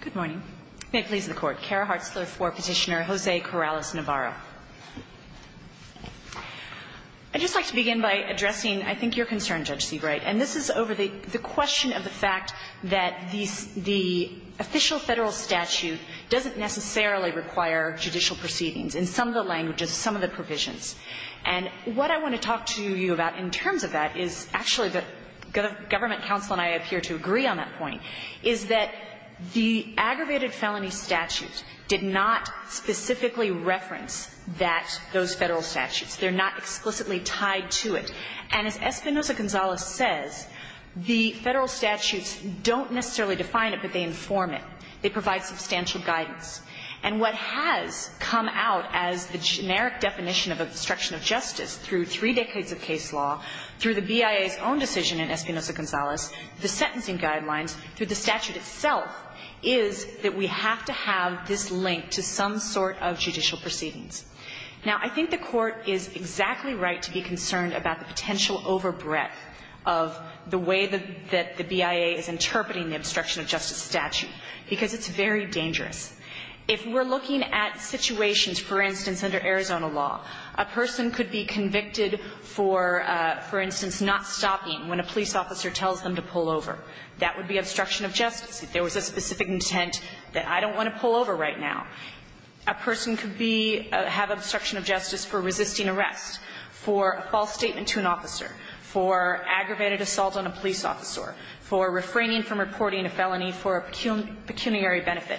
Good morning. May it please the Court. Kara Hartzler for Petitioner. Jose Corrales-Navarro. I'd just like to begin by addressing, I think, your concern, Judge Seabright, and this is over the question of the fact that the official federal statute doesn't necessarily require judicial proceedings in some of the languages, some of the provisions. And what I want to talk to you about in terms of that is, actually, the government counsel and I appear to agree on that point, is that the aggravated felony statute did not specifically reference that, those federal statutes. They're not explicitly tied to it. And as Espinoza-Gonzalez says, the federal statutes don't necessarily define it, but they inform it. They provide substantial guidance. And what has come out as the generic definition of obstruction of justice through three decades of case law, through the BIA's own decision in Espinoza-Gonzalez, the sentencing guidelines, through the statute itself, is that we have to have this link to some sort of judicial proceedings. Now, I think the Court is exactly right to be concerned about the potential overbreadth of the way that the BIA is interpreting the obstruction of justice statute, because it's very dangerous. If we're looking at situations, for instance, under Arizona law, a person could be convicted for, for instance, not stopping when a police officer tells them to pull over. That would be obstruction of justice. If there was a specific intent that I don't want to pull over right now, a person could be or have obstruction of justice for resisting arrest, for a false statement to an officer, for aggravated assault on a police officer, for refraining from reporting a felony for a pecuniary benefit.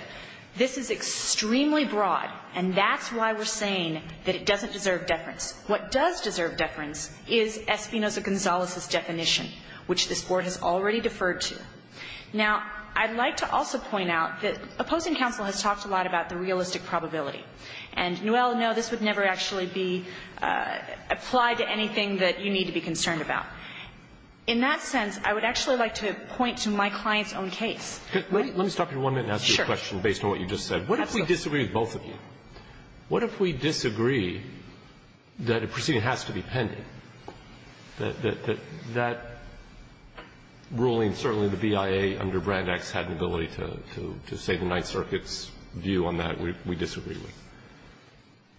This is extremely broad, and that's why we're saying that it doesn't deserve deference. What does deserve deference is Espinoza-Gonzalez's definition, which this Court has already deferred to. Now, I'd like to also point out that opposing counsel has talked a lot about the realistic probability. And, well, no, this would never actually be applied to anything that you need to be concerned about. In that sense, I would actually like to point to my client's own case. Let me stop you for one minute and ask you a question based on what you just said. What if we disagree with both of you? What if we disagree that a proceeding has to be pending, that that ruling, certainly the BIA under Brand X had an ability to say the Ninth Circuit's view on that we disagree with,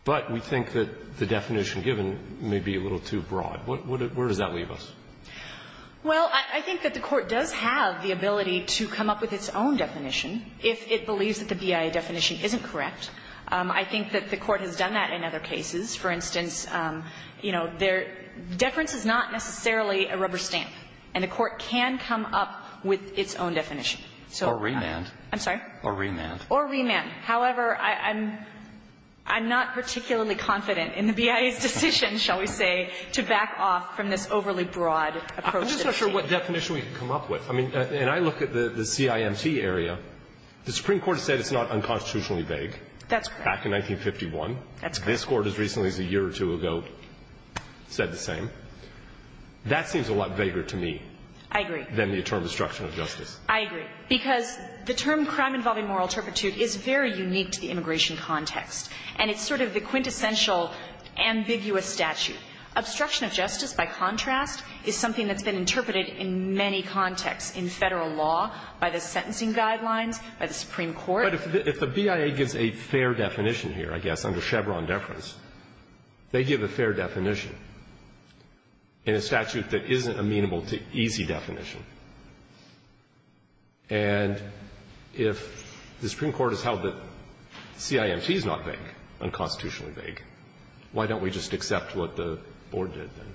but we think that the definition given may be a little too broad? Where does that leave us? Well, I think that the Court does have the ability to come up with its own definition if it believes that the BIA definition isn't correct. I think that the Court has done that in other cases. For instance, deference is not necessarily a rubber stamp, and the Court can come up with its own definition. Or remand. I'm sorry? Or remand. Or remand. However, I'm not particularly confident in the BIA's decision, shall we say, to back off from this overly broad approach to this case. I'm just not sure what definition we can come up with. I mean, and I look at the CIMT area. The Supreme Court has said it's not unconstitutionally vague. That's correct. Back in 1951. That's correct. This Court as recently as a year or two ago said the same. That seems a lot vaguer to me. I agree. Than the term destruction of justice. I agree. Because the term crime involving moral turpitude is very unique to the immigration context, and it's sort of the quintessential ambiguous statute. Obstruction of justice, by contrast, is something that's been interpreted in many contexts, in Federal law, by the sentencing guidelines, by the Supreme Court. But if the BIA gives a fair definition here, I guess, under Chevron deference, they give a fair definition in a statute that isn't amenable to easy definition. And if the Supreme Court has held that CIMT is not vague, unconstitutionally vague, why don't we just accept what the Board did then?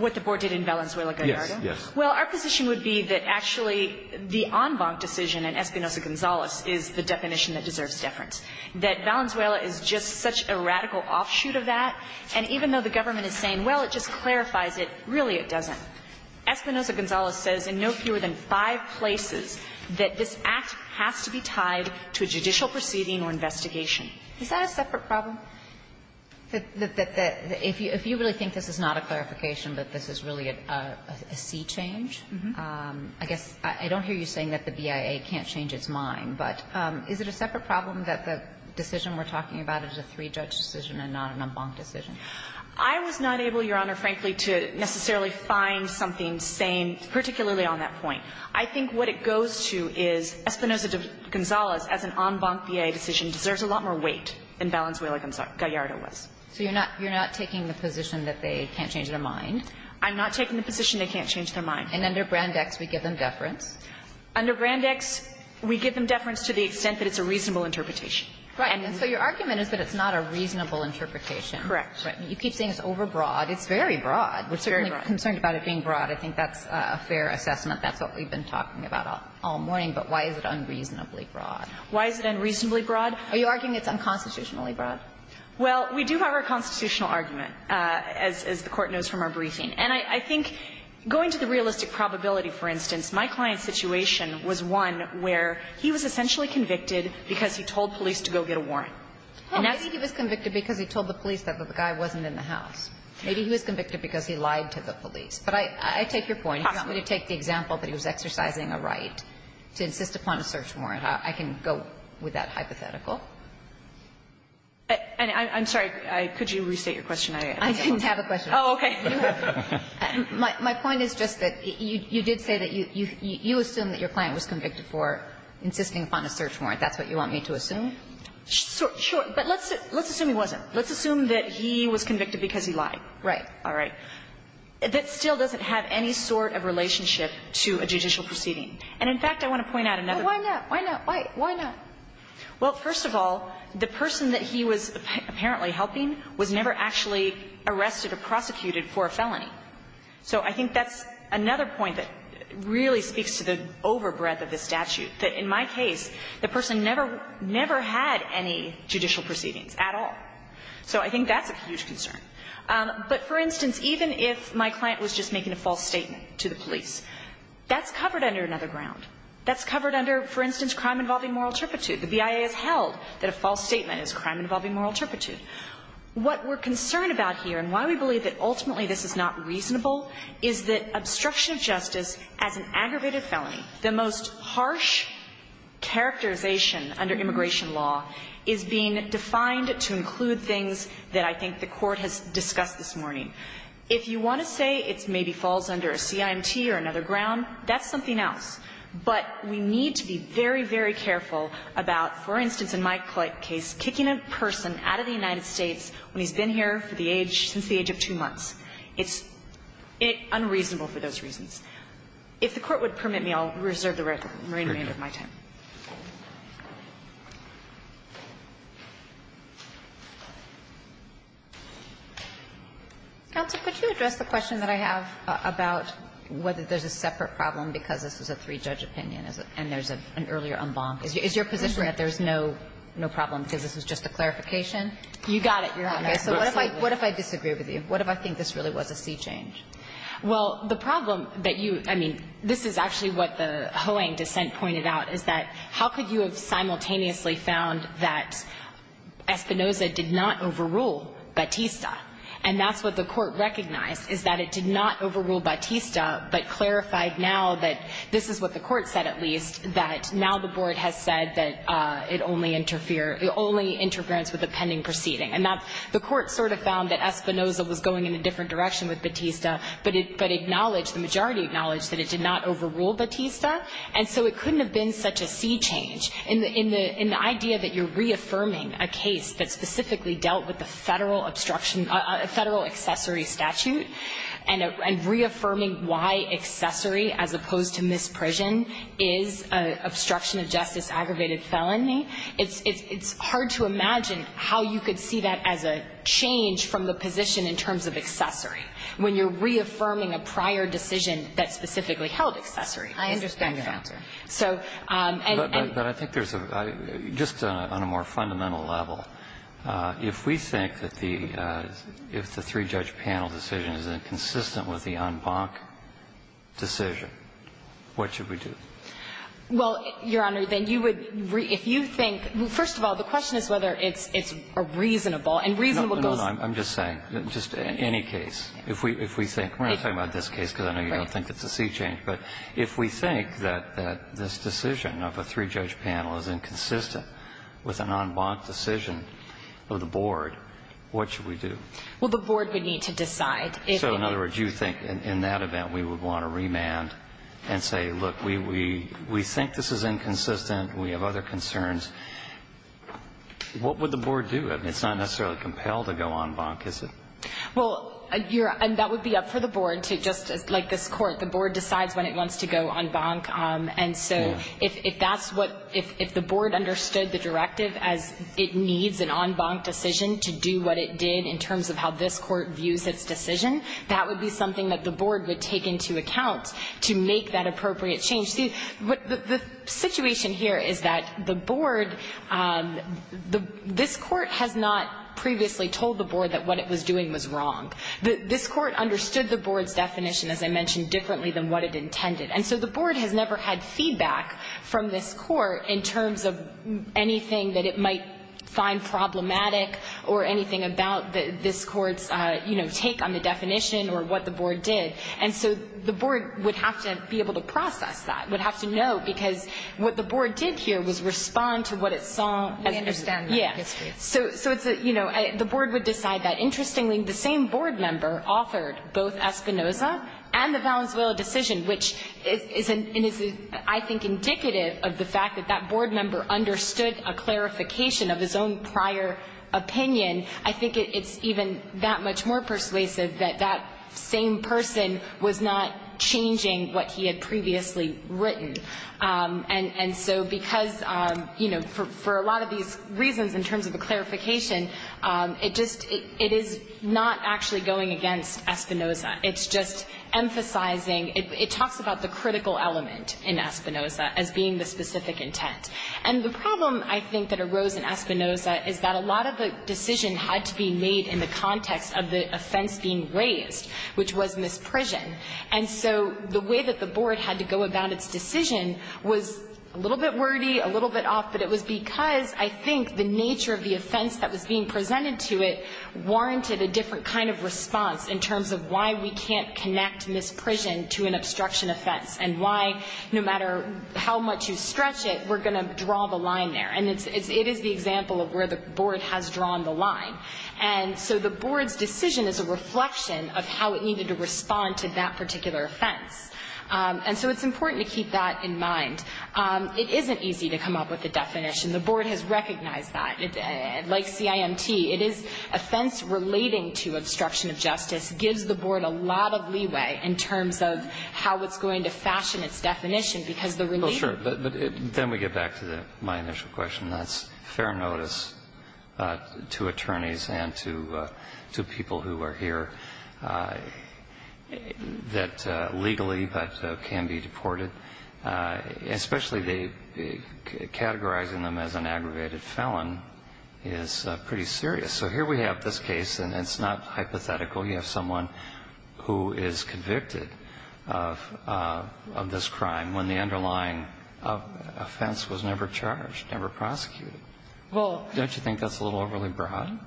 What the Board did in Valenzuela, Gallardo? Yes. Yes. Well, our position would be that actually the en banc decision in Espinoza-Gonzalez is the definition that deserves deference. That Valenzuela is just such a radical offshoot of that. And even though the government is saying, well, it just clarifies it, really it doesn't. Espinoza-Gonzalez says in no fewer than five places that this Act has to be tied to a judicial proceeding or investigation. Is that a separate problem? That if you really think this is not a clarification, that this is really a sea change? I guess I don't hear you saying that the BIA can't change its mind. But is it a separate problem that the decision we're talking about is a three-judge decision and not an en banc decision? I was not able, Your Honor, frankly, to necessarily find something sane, particularly on that point. I think what it goes to is Espinoza-Gonzalez, as an en banc BIA decision, deserves a lot more weight than Valenzuela-Gallardo was. So you're not taking the position that they can't change their mind? I'm not taking the position they can't change their mind. And under Brand X, we give them deference? Under Brand X, we give them deference to the extent that it's a reasonable interpretation. Right. And so your argument is that it's not a reasonable interpretation. Correct. Right. You keep saying it's overbroad. It's very broad. We're certainly concerned about it being broad. I think that's a fair assessment. That's what we've been talking about all morning. But why is it unreasonably broad? Why is it unreasonably broad? Are you arguing it's unconstitutionally broad? Well, we do have our constitutional argument, as the Court knows from our briefing. And I think going to the realistic probability, for instance, my client's situation was one where he was essentially convicted because he told police to go get a warrant. Maybe he was convicted because he told the police that the guy wasn't in the house. Maybe he was convicted because he lied to the police. But I take your point. He's going to take the example that he was exercising a right to insist upon a search warrant. I can go with that hypothetical. I'm sorry. Could you restate your question? I didn't have a question. Oh, okay. My point is just that you did say that you assume that your client was convicted for insisting upon a search warrant. That's what you want me to assume? Sure. But let's assume he wasn't. Let's assume that he was convicted because he lied. Right. All right. That still doesn't have any sort of relationship to a judicial proceeding. And in fact, I want to point out another thing. Why not? Why not? Why not? Well, first of all, the person that he was apparently helping was never actually arrested or prosecuted for a felony. So I think that's another point that really speaks to the overbreadth of this statute, that in my case, the person never had any judicial proceedings at all. So I think that's a huge concern. But, for instance, even if my client was just making a false statement to the police, that's covered under another ground. That's covered under, for instance, crime involving moral turpitude. The BIA has held that a false statement is crime involving moral turpitude. What we're concerned about here and why we believe that ultimately this is not reasonable is that obstruction of justice as an aggravated felony, the most harsh characterization under immigration law, is being defined to include things that I think the court has discussed this morning. If you want to say it maybe falls under a CIMT or another ground, that's something else. But we need to be very, very careful about, for instance, in my case, kicking a person out of the United States when he's been here for the age, since the age of two months. It's unreasonable for those reasons. If the Court would permit me, I'll reserve the remainder of my time. Kagan. Kagan. Counsel, could you address the question that I have about whether there's a separate problem because this was a three-judge opinion and there's an earlier en banc? Is your position that there's no problem because this was just a clarification? You got it, Your Honor. So what if I disagree with you? What if I think this really was a C change? Well, the problem that you – I mean, this is actually what the Hoang dissent pointed out is that how could you have simultaneously found that Espinoza did not overrule Batista? And that's what the Court recognized is that it did not overrule Batista but clarified now that this is what the Court said at least, that now the Board has said that it only interfered – only interference with a pending proceeding. And that the Court sort of found that Espinoza was going in a different direction with Batista but acknowledged, the majority acknowledged, that it did not overrule Batista. And so it couldn't have been such a C change. In the idea that you're reaffirming a case that specifically dealt with the federal obstruction – a federal accessory statute and reaffirming why accessory as opposed to misprision is an obstruction of justice aggravated felony, it's hard to imagine how you could see that as a change from the position in terms of accessory when you're reaffirming a prior decision that specifically held accessory. I understand your answer. So – But I think there's a – just on a more fundamental level, if we think that the – if the three-judge panel decision is inconsistent with the en banc decision, what should we do? Well, Your Honor, then you would – if you think – first of all, the question is whether it's a reasonable – and reasonable goes – No, no, I'm just saying, just any case. If we think – we're not talking about this case, because I know you don't think it's a sea change, but if we think that this decision of a three-judge panel is inconsistent with an en banc decision of the board, what should we do? Well, the board would need to decide if – So in other words, you think in that event we would want to remand and say, look, we think this is inconsistent, we have other concerns. What would the board do? I mean, it's not necessarily compelled to go en banc, is it? Well, Your – and that would be up for the board to – just like this court, the board decides when it wants to go en banc, and so if that's what – if the board understood the directive as it needs an en banc decision to do what it did in terms of how this court views its decision, that would be something that the board would take into account to make that appropriate change. See, the situation here is that the board – this court has not previously told the board that this was wrong. This court understood the board's definition, as I mentioned, differently than what it intended, and so the board has never had feedback from this court in terms of anything that it might find problematic or anything about this court's, you know, take on the definition or what the board did. And so the board would have to be able to process that, would have to know, because what the board did here was respond to what it saw as – We understand that. Yes, we do. So it's a – you know, the board would decide that. Interestingly, the same board member authored both Espinoza and the Valenzuela decision, which is – and is, I think, indicative of the fact that that board member understood a clarification of his own prior opinion. I think it's even that much more persuasive that that same person was not changing what he had previously written. And so because, you know, for a lot of these reasons in terms of the clarification, it just – it is not actually going against Espinoza. It's just emphasizing – it talks about the critical element in Espinoza as being the specific intent. And the problem, I think, that arose in Espinoza is that a lot of the decision had to be made in the context of the offense being raised, which was misprision. And so the way that the board had to go about its decision was a little bit wordy, a little bit off, but it was because, I think, the nature of the offense that was being presented to it warranted a different kind of response in terms of why we can't connect misprision to an obstruction offense and why, no matter how much you stretch it, we're going to draw the line there. And it is the example of where the board has drawn the line. And so the board's decision is a reflection of how it needed to respond to that particular offense. And so it's important to keep that in mind. It isn't easy to come up with a definition. The board has recognized that. Like CIMT, it is – offense relating to obstruction of justice gives the board a lot of leeway in terms of how it's going to fashion its definition because the renewal – to attorneys and to people who are here that legally, but can be deported, especially they – categorizing them as an aggravated felon is pretty serious. So here we have this case, and it's not hypothetical. You have someone who is convicted of this crime when the underlying offense was never charged, never prosecuted. Don't you think that's a little overly broad?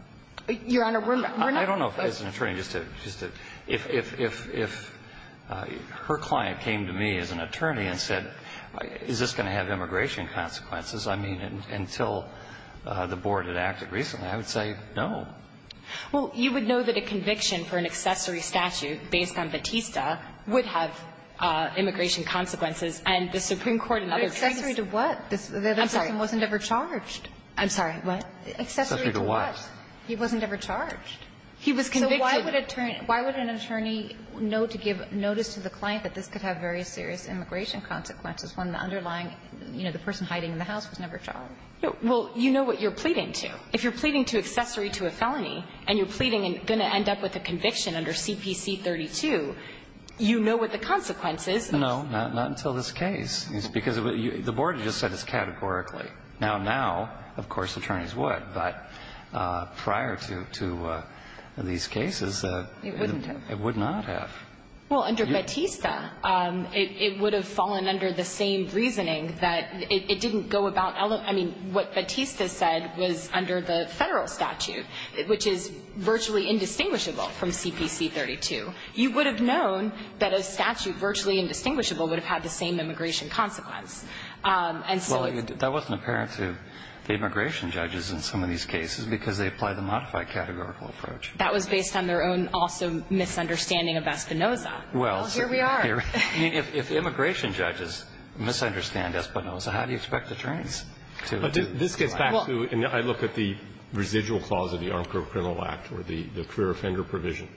Your Honor, we're not – I don't know if as an attorney, just to – if her client came to me as an attorney and said, is this going to have immigration consequences, I mean, until the board had acted recently, I would say no. Well, you would know that a conviction for an accessory statute based on Batista would have immigration consequences, and the Supreme Court in other cases – But accessory to what? The other person wasn't ever charged. I'm sorry, what? Accessory to what? He wasn't ever charged. He was convicted. So why would an attorney know to give notice to the client that this could have very serious immigration consequences when the underlying – you know, the person hiding in the house was never charged? Well, you know what you're pleading to. If you're pleading to accessory to a felony and you're pleading and going to end up with a conviction under CPC 32, you know what the consequences are. No, not until this case. Because the board has just said it's categorically. Now, now, of course, attorneys would, but prior to these cases, it would not have. Well, under Batista, it would have fallen under the same reasoning that it didn't go about – I mean, what Batista said was under the federal statute, which is virtually indistinguishable from CPC 32. You would have known that a statute virtually indistinguishable would have had the same immigration consequence. And so it's – Well, that wasn't apparent to the immigration judges in some of these cases because they applied the modified categorical approach. That was based on their own, also, misunderstanding of Espinoza. Well, here we are. I mean, if immigration judges misunderstand Espinoza, how do you expect the attorneys to – This gets back to – I look at the residual clause of the Armed Criminal Act or the career offender provision.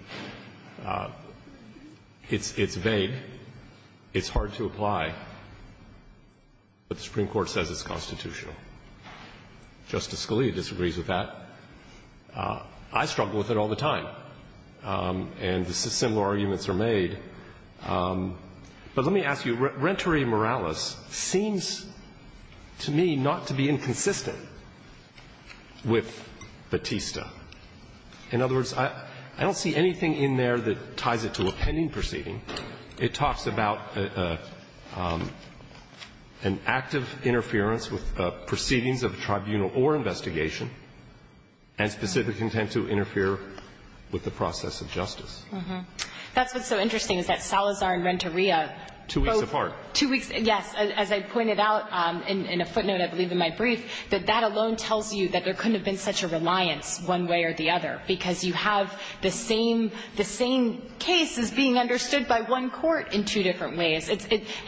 It's vague. It's hard to apply. But the Supreme Court says it's constitutional. Justice Scalia disagrees with that. I struggle with it all the time. And similar arguments are made. But let me ask you. Rentore Morales seems to me not to be inconsistent with Batista. In other words, I don't see anything in there that ties it to a pending proceeding. It talks about an active interference with proceedings of a tribunal or investigation and specific intent to interfere with the process of justice. That's what's so interesting is that Salazar and Rentorea – Two weeks apart. Two weeks – yes. As I pointed out in a footnote, I believe, in my brief, that that alone tells you that there couldn't have been such a reliance one way or the other because you have the same case as being understood by one court in two different ways.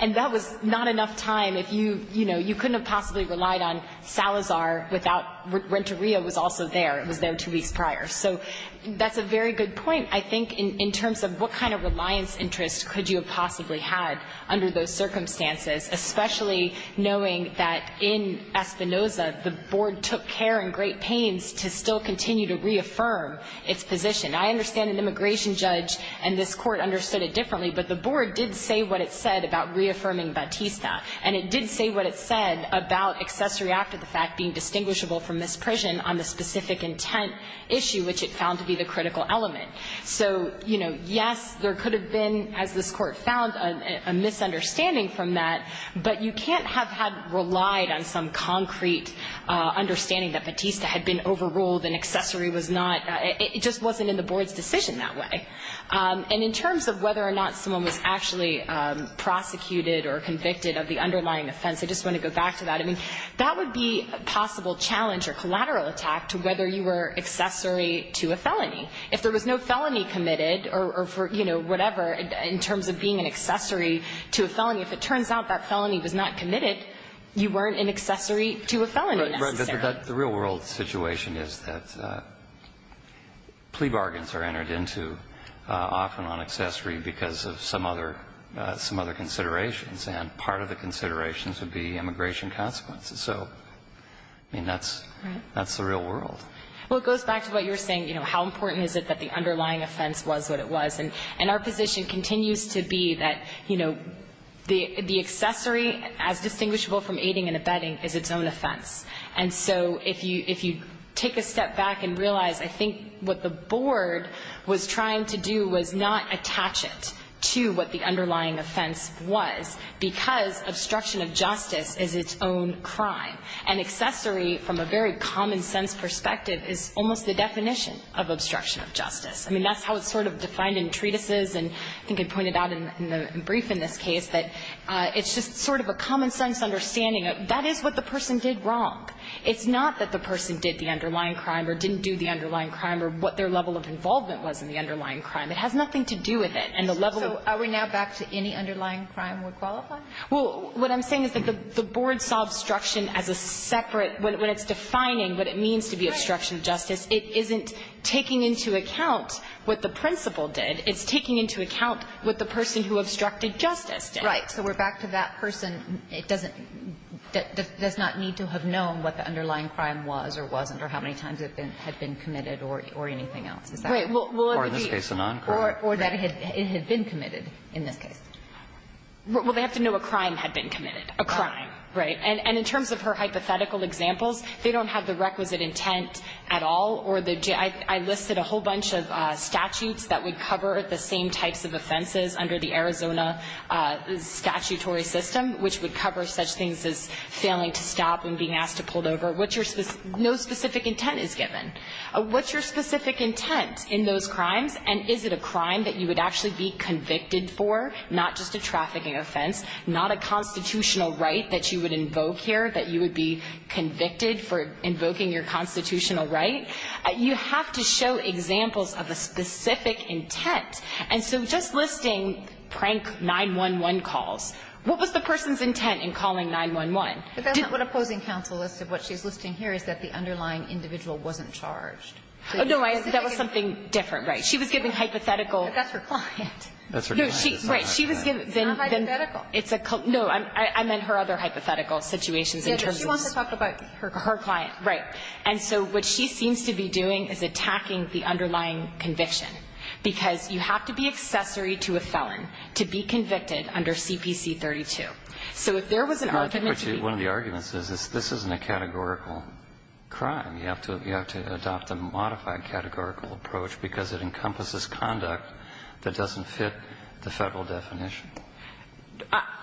And that was not enough time if you – you know, you couldn't have possibly relied on Salazar without – Rentorea was also there. It was there two weeks prior. So that's a very good point, I think, in terms of what kind of reliance interest could you have possibly had under those circumstances, especially knowing that in Espinoza, the Board took care in great pains to still continue to reaffirm its position. I understand an immigration judge and this Court understood it differently, but the Board did say what it said about reaffirming Batista. And it did say what it said about accessory after the fact being distinguishable from misprision on the specific intent issue, which it found to be the critical element. So, you know, yes, there could have been, as this Court found, a misunderstanding from that, but you can't have had – relied on some concrete understanding that Batista had been overruled and accessory was not – it just wasn't in the Board's decision that way. And in terms of whether or not someone was actually prosecuted or convicted of the underlying offense, I just want to go back to that. I mean, that would be a possible challenge or collateral attack to whether you were accessory to a felony. If there was no felony committed or for, you know, whatever, in terms of being an accessory to a felony, if it turns out that felony was not committed, you weren't an accessory to a felony necessarily. The real-world situation is that plea bargains are entered into often on accessory because of some other considerations, and part of the considerations would be immigration consequences. So, I mean, that's the real world. Well, it goes back to what you were saying, you know, how important is it that the underlying offense was what it was. And our position continues to be that, you know, the accessory as distinguishable from aiding and abetting is its own offense. And so if you take a step back and realize, I think what the board was trying to do was not attach it to what the underlying offense was because obstruction of justice is its own crime. And accessory, from a very common-sense perspective, is almost the definition of obstruction of justice. I mean, that's how it's sort of defined in treatises, and I think I pointed out in the brief in this case, that it's just sort of a common-sense understanding of, that is what the person did wrong. It's not that the person did the underlying crime or didn't do the underlying crime or what their level of involvement was in the underlying crime. It has nothing to do with it. And the level of the law. So are we now back to any underlying crime would qualify? Well, what I'm saying is that the board saw obstruction as a separate, when it's defining what it means to be obstruction of justice, it isn't taking into account what the principal did. It's taking into account what the person who obstructed justice did. So we're back to that person. It doesn't need to have known what the underlying crime was or wasn't or how many times it had been committed or anything else. Is that right? Or in this case, a non-crime. Or that it had been committed in this case. Well, they have to know a crime had been committed. A crime. Right. And in terms of her hypothetical examples, they don't have the requisite intent at all. I listed a whole bunch of statutes that would cover the same types of offenses under the Arizona statutory system, which would cover such things as failing to stop and being asked to pull over. No specific intent is given. What's your specific intent in those crimes? And is it a crime that you would actually be convicted for? Not just a trafficking offense. Not a constitutional right that you would invoke here, that you would be convicted for invoking your constitutional right. You have to show examples of a specific intent. And so just listing prank 9-1-1 calls, what was the person's intent in calling 9-1-1? But that's not what opposing counsel listed. What she's listing here is that the underlying individual wasn't charged. Oh, no. That was something different. Right. She was giving hypothetical. But that's her client. That's her client. Right. It's not hypothetical. No. I meant her other hypothetical situations in terms of. She wants to talk about her client. Her client. Right. And so what she seems to be doing is attacking the underlying conviction, because you have to be accessory to a felon to be convicted under CPC-32. So if there was an argument. One of the arguments is this isn't a categorical crime. You have to adopt a modified categorical approach because it encompasses conduct that doesn't fit the Federal definition.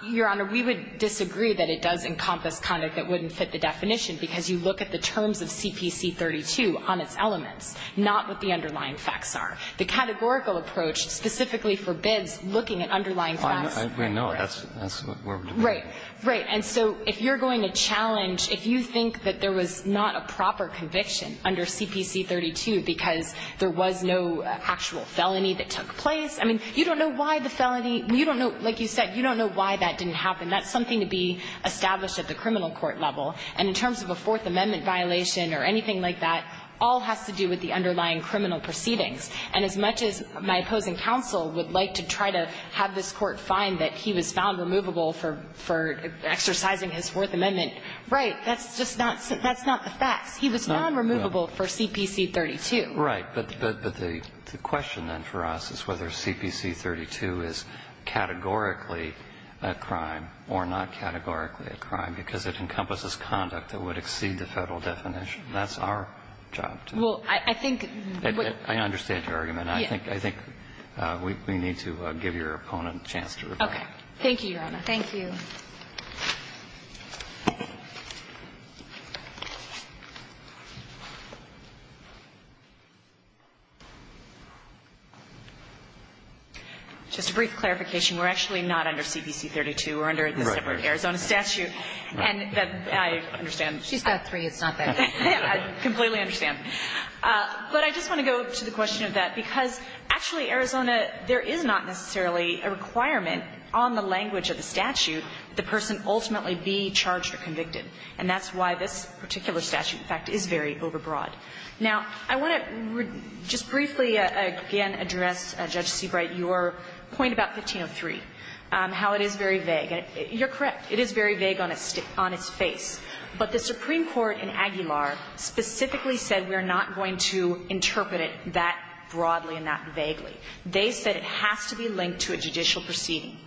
Your Honor, we would disagree that it does encompass conduct that wouldn't fit the definition because you look at the terms of CPC-32 on its elements, not what the underlying facts are. The categorical approach specifically forbids looking at underlying facts. I agree. No, that's what we're debating. Right. Right. And so if you're going to challenge, if you think that there was not a proper conviction under CPC-32 because there was no actual felony that took place, I mean, you don't know why the felony. You don't know. Like you said, you don't know why that didn't happen. That's something to be established at the criminal court level. And in terms of a Fourth Amendment violation or anything like that, all has to do with the underlying criminal proceedings. And as much as my opposing counsel would like to try to have this Court find that he was found removable for exercising his Fourth Amendment, right, that's just not the facts. He was non-removable for CPC-32. Right. But the question then for us is whether CPC-32 is categorically a crime or not categorically a crime because it encompasses conduct that would exceed the Federal definition. That's our job. Well, I think that what we need to give your opponent a chance to reflect. Okay. Thank you, Your Honor. Thank you. Just a brief clarification. We're actually not under CPC-32. We're under the separate Arizona statute. And I understand. She's got three. It's not bad. I completely understand. But I just want to go to the question of that because, actually, Arizona, there is not necessarily a requirement on the language of the statute that the person ultimately be charged or convicted. And that's why this particular statute, in fact, is very overbroad. Now, I want to just briefly again address, Judge Seabright, your point about 1503, how it is very vague. You're correct. It is very vague on its face. But the Supreme Court in Aguilar specifically said we're not going to interpret it that broadly and that vaguely. They said it has to be linked to a judicial proceeding.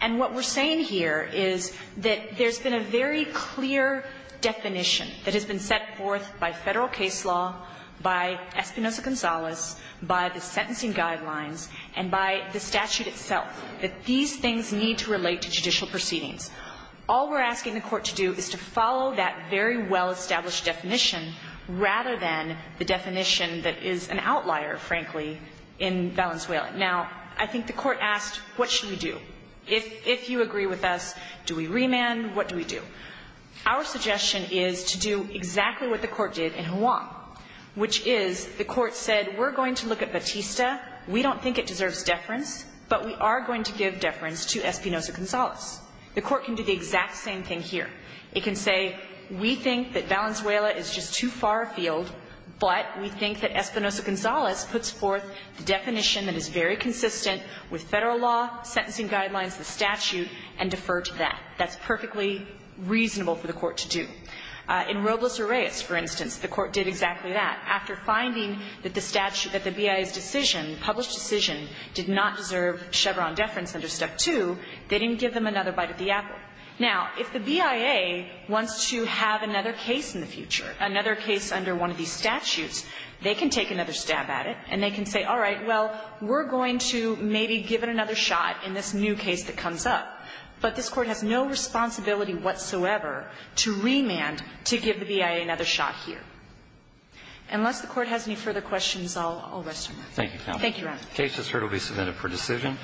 And what we're saying here is that there's been a very clear definition that has been set forth by Federal case law, by Espinoza-Gonzalez, by the sentencing guidelines, and by the statute itself, that these things need to relate to judicial proceedings. All we're asking the Court to do is to follow that very well-established definition rather than the definition that is an outlier, frankly, in Valenzuela. Now, I think the Court asked what should we do. If you agree with us, do we remand? What do we do? Our suggestion is to do exactly what the Court did in Juan, which is the Court said we're going to look at Batista. We don't think it deserves deference, but we are going to give deference to Espinoza-Gonzalez. The Court can do the exact same thing here. It can say we think that Valenzuela is just too far afield, but we think that Espinoza-Gonzalez puts forth the definition that is very consistent with Federal law, sentencing guidelines, the statute, and defer to that. That's perfectly reasonable for the Court to do. In Robles-Urreas, for instance, the Court did exactly that. After finding that the statute that the BIA's decision, published decision, did not deserve Chevron deference under Step 2, they didn't give them another bite of the apple. Now, if the BIA wants to have another case in the future, another case under one of these statutes, they can take another stab at it, and they can say, all right, well, we're going to maybe give it another shot in this new case that comes up, but this Court has no responsibility whatsoever to remand to give the BIA another shot here. Unless the Court has any further questions, I'll rest my mind. Roberts. Thank you, Your Honor. The case, as heard, will be submitted for decision.